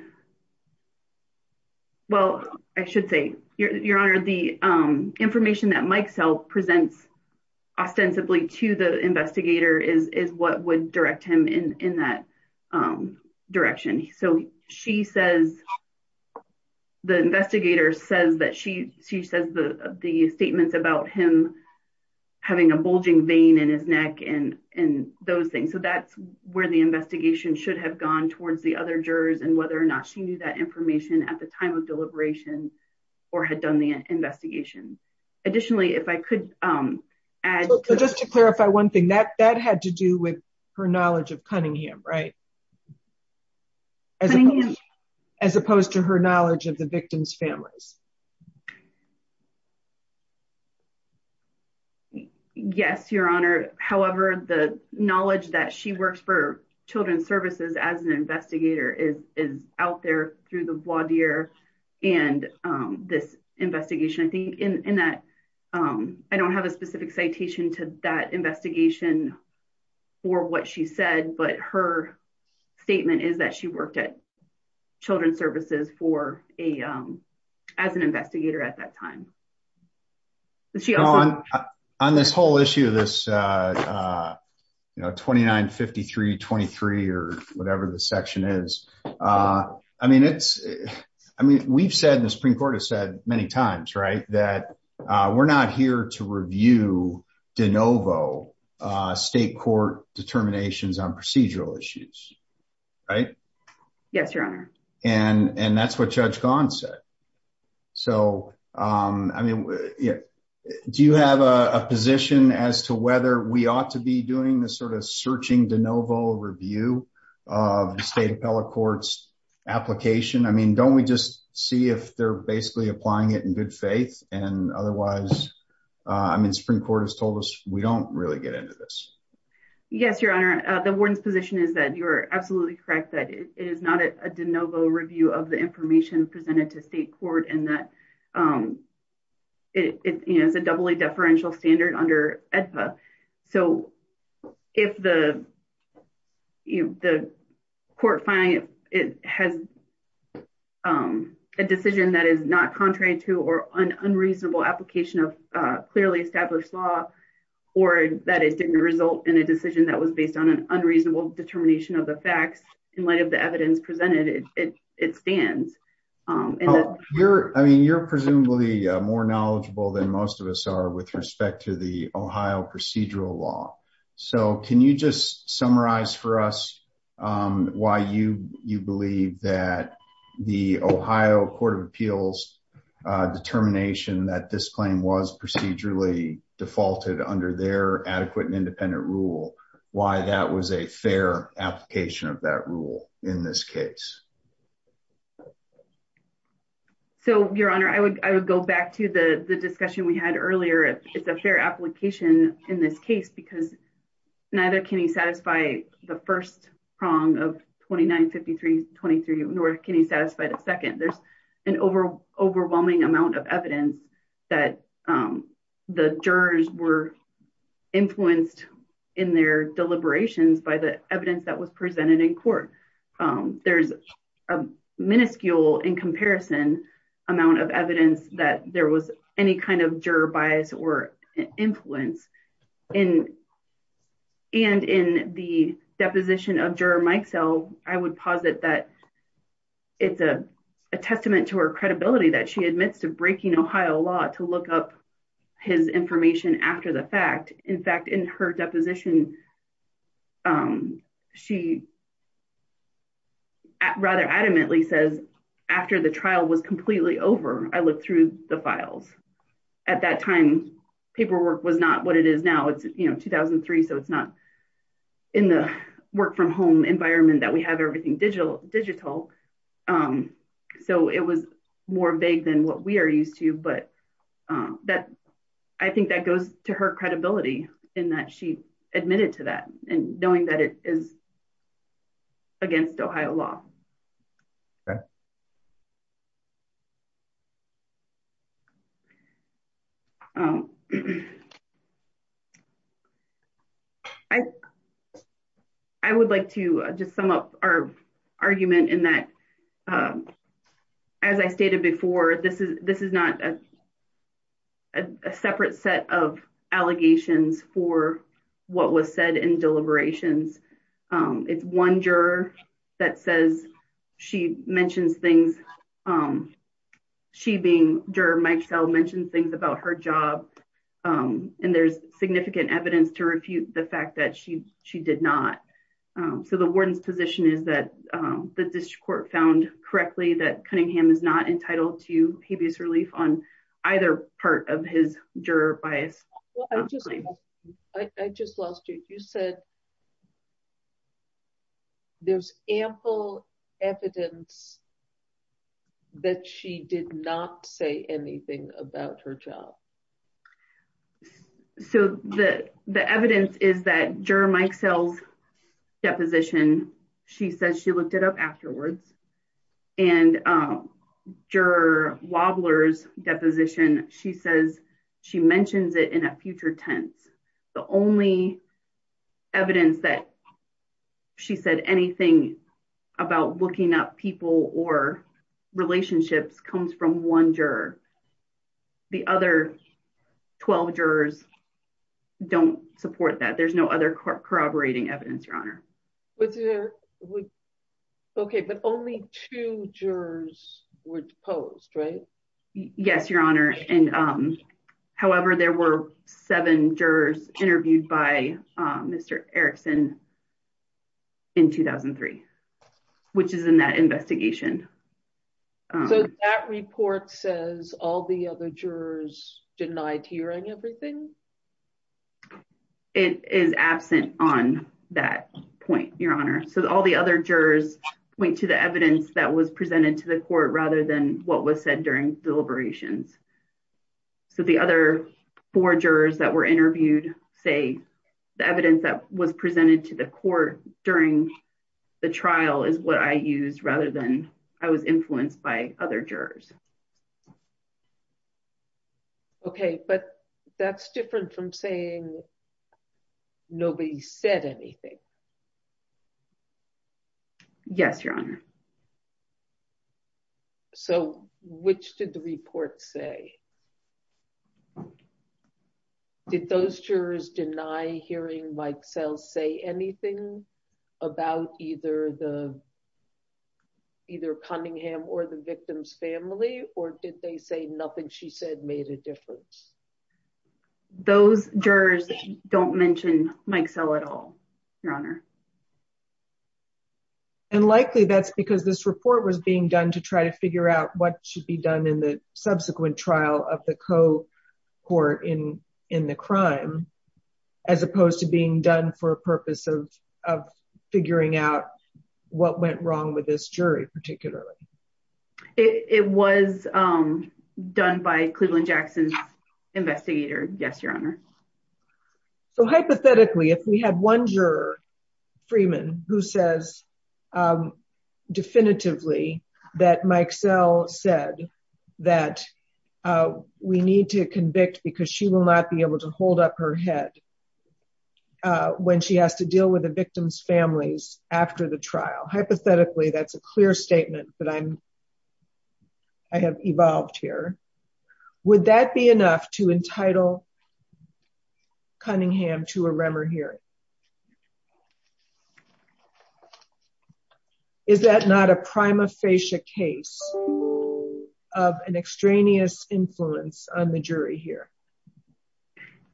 well, I should say, Your Honor, the information that Mike Sell presents ostensibly to the investigator is what would direct him in that direction. So she says, the investigator says that she, she says the statements about him having a bulging vein in his neck and those things. So that's where the investigation should have gone towards the other jurors and whether or not she knew that information at the time of deliberation or had done the investigation. Additionally, if I could add... So just to clarify one thing, that had to do with her knowledge of Cunningham, right? As opposed to her knowledge of the victim's families. Yes, Your Honor. However, the knowledge that she works for Children's Services as an investigator is out there through the voir dire and this investigation. I think in that, I don't have a specific citation to that investigation for what she said, but her statement is that she worked at Children's Services for a, as an investigator at that time. On this whole issue of this 29-53-23 or whatever the section is. I mean, it's, I mean, we've said, the Supreme Court has said many times, right, that we're not here to review de novo state court determinations on procedural issues, right? Yes, Your Honor. And that's what Judge Gahn said. So, I mean, do you have a position as to whether we ought to be doing this sort of searching de novo review of the state appellate court's application? I mean, don't we just see if they're basically applying it in good faith? And otherwise, I mean, Supreme Court has told us we don't really get into this. Yes, Your Honor. The warden's position is that you're absolutely correct that it is not a de novo review of the information presented to state court and that it is a doubly deferential standard under AEDPA. So, if the court finding it has been a decision that is not contrary to or an unreasonable application of clearly established law or that it didn't result in a decision that was based on an unreasonable determination of the facts in light of the evidence presented, it stands. I mean, you're presumably more knowledgeable than most of us are with respect to the Ohio procedural law. So, can you just summarize for us why you believe that the Ohio Court of Appeals determination that this claim was procedurally defaulted under their adequate and independent rule, why that was a fair application of that rule in this case? So, Your Honor, I would go back to the discussion we had earlier. It's a fair of 29, 53, 23, North. Can you satisfy the second? There's an overwhelming amount of evidence that the jurors were influenced in their deliberations by the evidence that was presented in court. There's a minuscule in comparison amount of evidence that there was any kind of juror bias or influence. And in the deposition of Juror Mike Sell, I would posit that it's a testament to her credibility that she admits to breaking Ohio law to look up his information after the fact. In fact, in her deposition, she rather adamantly says, after the trial was completely over, I looked through the files. At that time, paperwork was not what it is now. It's 2003. So, it's not in the work from home environment that we have everything digital. So, it was more vague than what we are used to. But I think that goes to her credibility in that she admitted to that knowing that it is against Ohio law. I would like to just sum up our argument in that, as I stated before, this is not a separate set of allegations for what was said in deliberations. It's one juror that says she mentions things. She being Juror Mike Sell mentioned things about her job. And there's significant evidence to refute the fact that she did not. So, the warden's position is that the district court found correctly that Cunningham is not entitled to habeas relief on either part of his juror bias. I just lost you. You said there's ample evidence that she did not say anything about her job. So, the evidence is that Juror Mike Sell's deposition, she says she looked it up afterwards. And Juror Wobbler's deposition, she says she mentions it in a future tense. The only evidence that she said anything about looking up people or relationships comes from one juror. The other 12 jurors don't support that. There's no other corroborating evidence, Your Honor. Okay, but only two jurors were deposed, right? Yes, Your Honor. However, there were seven jurors interviewed by Mr. Erickson in 2003, which is in that investigation. So, that report says all the other jurors denied hearing everything? It is absent on that point, Your Honor. So, all the other jurors point to the evidence that was presented to the court rather than what was said during deliberations. So, the other four jurors that were interviewed say the evidence that was presented to the court during the trial is what I used rather than I was influenced by other jurors. Okay, but that's different from saying nobody said anything. Yes, Your Honor. So, which did the report say? Did those jurors deny hearing Mike Sell say anything about either Cunningham or the victim's family, or did they say nothing she said made a difference? Those jurors don't mention Mike Sell at all, Your Honor. And likely that's because this report was being done to try to figure out what should be done in the subsequent trial of the co-court in the crime as opposed to being done for a purpose of figuring out what went wrong with this jury particularly. It was done by Cleveland Jackson's investigator. Yes, Your Honor. So, hypothetically, if we had one juror, Freeman, who says definitively that Mike Sell said that we need to convict because she will not be able to hold up her head when she has to deal with the victim's families after the trial. Hypothetically, that's a clear statement that I'm, I have evolved here. Would that be enough to entitle Cunningham to a is that not a prima facie case of an extraneous influence on the jury here?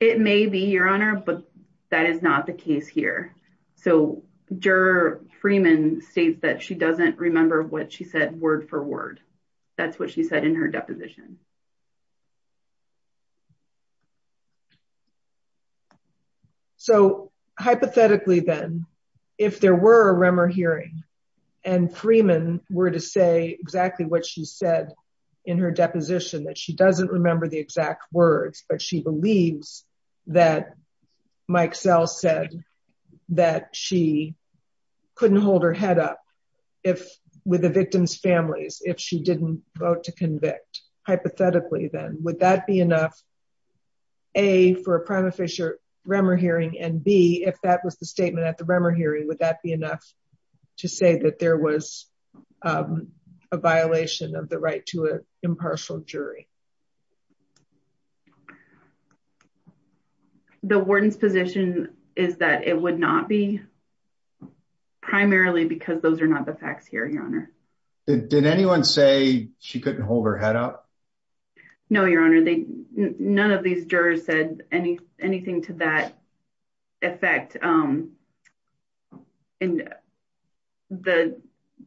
It may be, Your Honor, but that is not the case here. So, Juror Freeman states that she doesn't remember what she said word for word. That's what she said in her deposition. So, hypothetically then, if there were a Remmer hearing and Freeman were to say exactly what she said in her deposition that she doesn't remember the exact words but she believes that Mike Sell said that she couldn't hold her head up if with the victim's families if she didn't vote to convict. Hypothetically, then, would that be enough, A, for a prima facie Remmer hearing and B, if that was the statement at the Remmer hearing, would that be enough to say that there was a violation of the right to an impartial jury? The warden's position is that it would not be primarily because those are not the facts here, Did anyone say she couldn't hold her head up? No, Your Honor. None of these jurors said anything to that effect.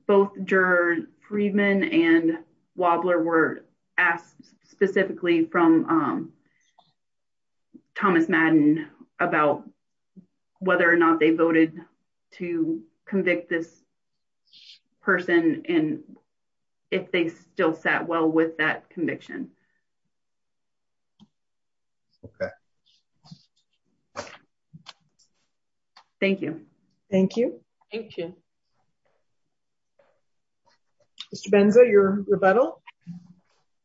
Both Juror Freeman and Wobler were asked specifically from Thomas Madden about whether or not they voted to convict this person and if they still sat well with that conviction. Okay. Thank you. Thank you. Thank you. Mr. Benza, your rebuttal.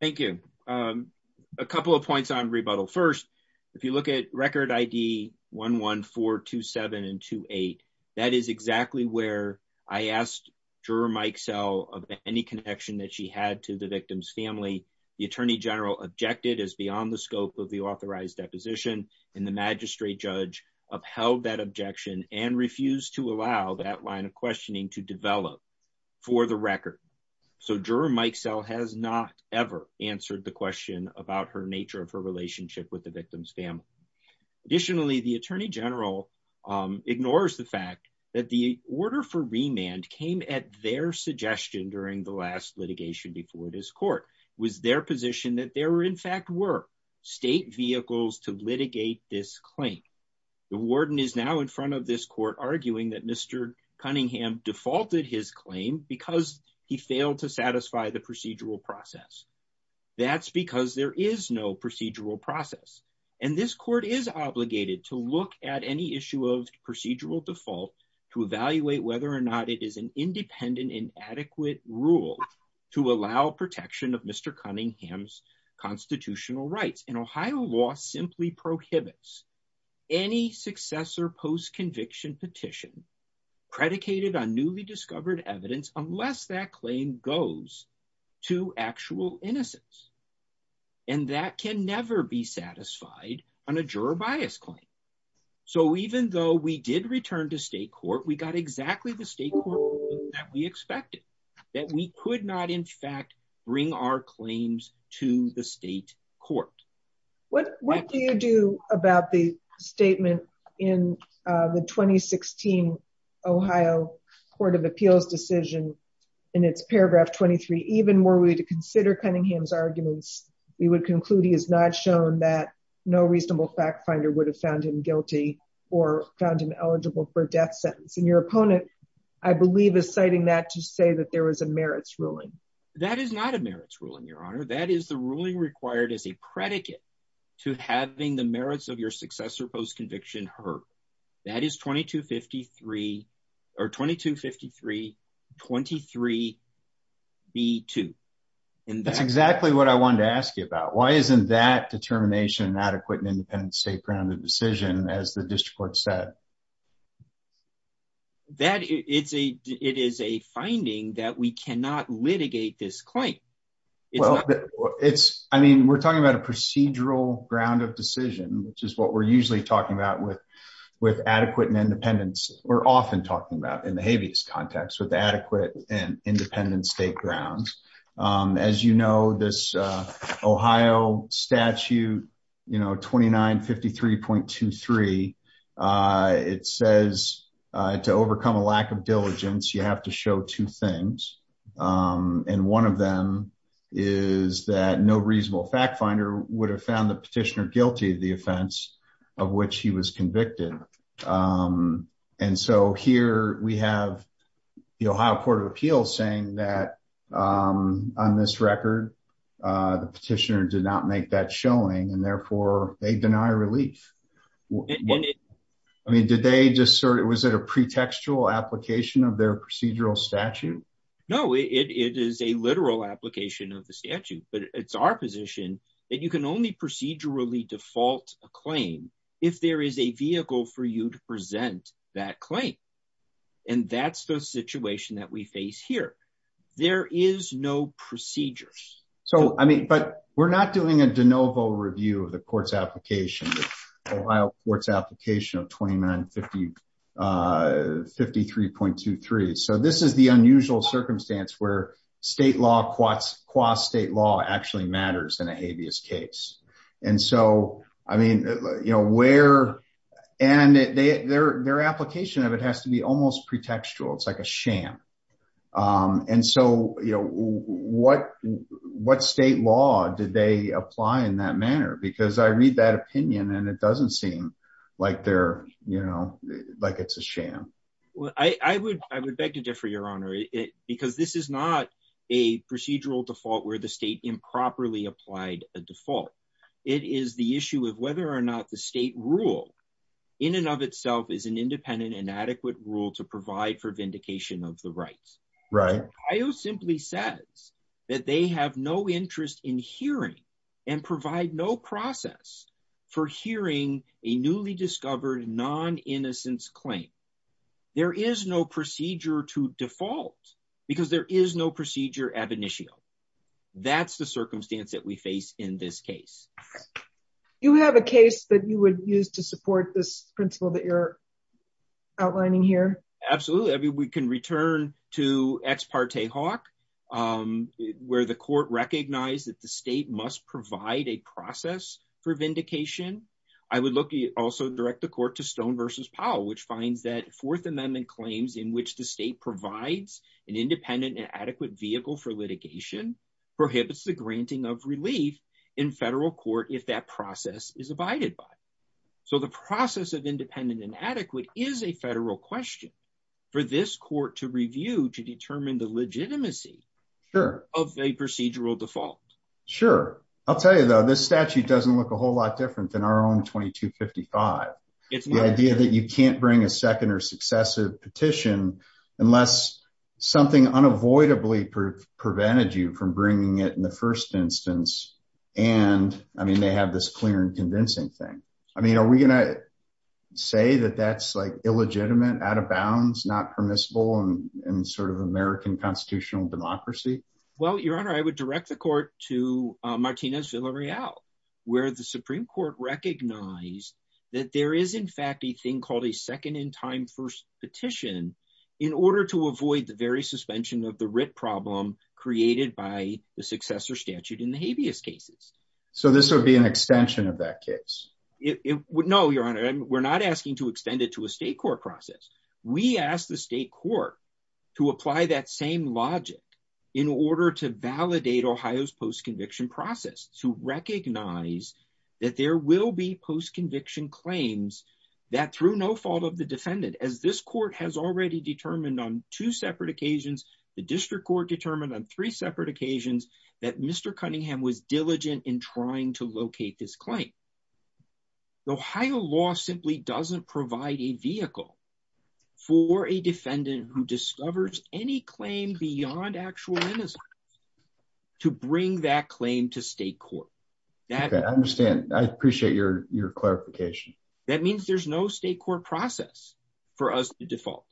Thank you. A couple of points on rebuttal. First, if you look at record ID 11427 and 28, that is exactly where I asked Juror Mike Sell of any connection that she had to the victim's family. The Attorney General objected as beyond the scope of the authorized deposition and the magistrate judge upheld that objection and refused to allow that line of questioning to develop for the record. So, Juror Mike Sell has not ever answered the question about her nature of her relationship with the victim's family. Additionally, the Attorney General ignores the fact that the order for remand came at their suggestion during the last litigation before this court. It was their position that there were in fact were state vehicles to litigate this claim. The warden is now in front of this court arguing that Mr. Cunningham defaulted his claim because he failed to satisfy the procedural process. That's because there is no procedural process. And this court is obligated to look at any issue of procedural default to evaluate whether or not it is an independent and adequate rule to allow protection of Mr. Cunningham's constitutional rights. And Ohio law simply prohibits any successor post-conviction petition predicated on newly discovered evidence unless that claim goes to actual innocence. And that can never be satisfied on a juror bias claim. So, even though we did return to state court, we got exactly the state court that we expected. That we could not in fact bring our 2016 Ohio Court of Appeals decision in its paragraph 23, even were we to consider Cunningham's arguments, we would conclude he has not shown that no reasonable fact finder would have found him guilty or found him eligible for death sentence. And your opponent, I believe, is citing that to say that there was a merits ruling. That is not a merits ruling, Your Honor. That is the ruling required as a predicate to having the merits of your successor post-conviction heard. That is 2253 23B2. That's exactly what I wanted to ask you about. Why isn't that determination adequate in an independent state-grounded decision as the district court said? Well, it is a finding that we cannot litigate this claim. I mean, we're talking about a procedural ground of decision, which is what we're usually talking about with adequate and independent. We're often talking about in the habeas context with adequate and independent state grounds. As you know, this Ohio statute 2953.23, it says to overcome a lack of diligence, you have to show two things. And one of them is that no reasonable fact finder would have found the petitioner guilty of the offense of which he was saying that on this record, the petitioner did not make that showing and therefore, they deny relief. Was it a pretextual application of their procedural statute? No, it is a literal application of the statute. But it's our position that you can only procedurally default a claim if there is a vehicle for you to present that claim. And that's the situation that face here. There is no procedure. So I mean, but we're not doing a de novo review of the court's application, the Ohio court's application of 2953.23. So this is the unusual circumstance where state law qua state law actually matters in a habeas case. And so, I mean, you know, where and their their application of it has to be almost pretextual. It's like a sham. And so, you know, what, what state law did they apply in that manner, because I read that opinion, and it doesn't seem like they're, you know, like it's a sham. Well, I would I would beg to differ, Your Honor, it because this is not a procedural default where the state improperly applied a in and of itself is an independent and adequate rule to provide for vindication of the rights, right, I will simply says that they have no interest in hearing and provide no process for hearing a newly discovered non innocence claim. There is no procedure to default, because there is no procedure ab initio. That's the circumstance that we face in this case. You have a case that you would use to support this principle that you're outlining here? Absolutely. I mean, we can return to ex parte hawk, where the court recognized that the state must provide a process for vindication. I would look at also direct the court to Stone versus Powell, which finds that Fourth Amendment claims in which the state provides an independent and adequate vehicle for litigation prohibits the granting of relief in federal court if that process is abided by. So the process of independent and adequate is a federal question for this court to review to determine the legitimacy of a procedural default. Sure. I'll tell you though, this statute doesn't look a whole lot different than our own 2255. It's the idea that you can't bring a second or successive petition, unless something unavoidably prevented you from bringing it in the first instance. And I mean, they have this clear and convincing thing. I mean, are we going to say that that's like illegitimate, out of bounds, not permissible and sort of American constitutional democracy? Well, Your Honor, I would direct the there is in fact, a thing called a second in time first petition, in order to avoid the very suspension of the writ problem created by the successor statute in the habeas cases. So this would be an extension of that case? No, Your Honor, we're not asking to extend it to a state court process. We asked the state court to apply that same logic in order to validate Ohio's post conviction process to recognize that there will be post conviction claims that through no fault of the defendant, as this court has already determined on two separate occasions, the district court determined on three separate occasions, that Mr. Cunningham was diligent in trying to locate this claim. The Ohio law simply doesn't provide a vehicle for a defendant who discovers any claim beyond actual innocence to bring that claim to state court. Okay, I understand. I appreciate your clarification. That means there's no state court process for us to default.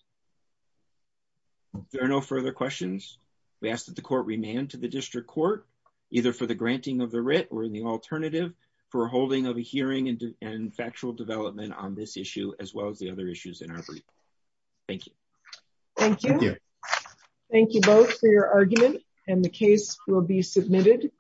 There are no further questions. We ask that the court remain to the district court, either for the granting of the writ or the alternative for holding of a hearing and factual development on this issue, as well as the other issues in our brief. Thank you. Thank you. Thank you both for your argument, and the case will be submitted.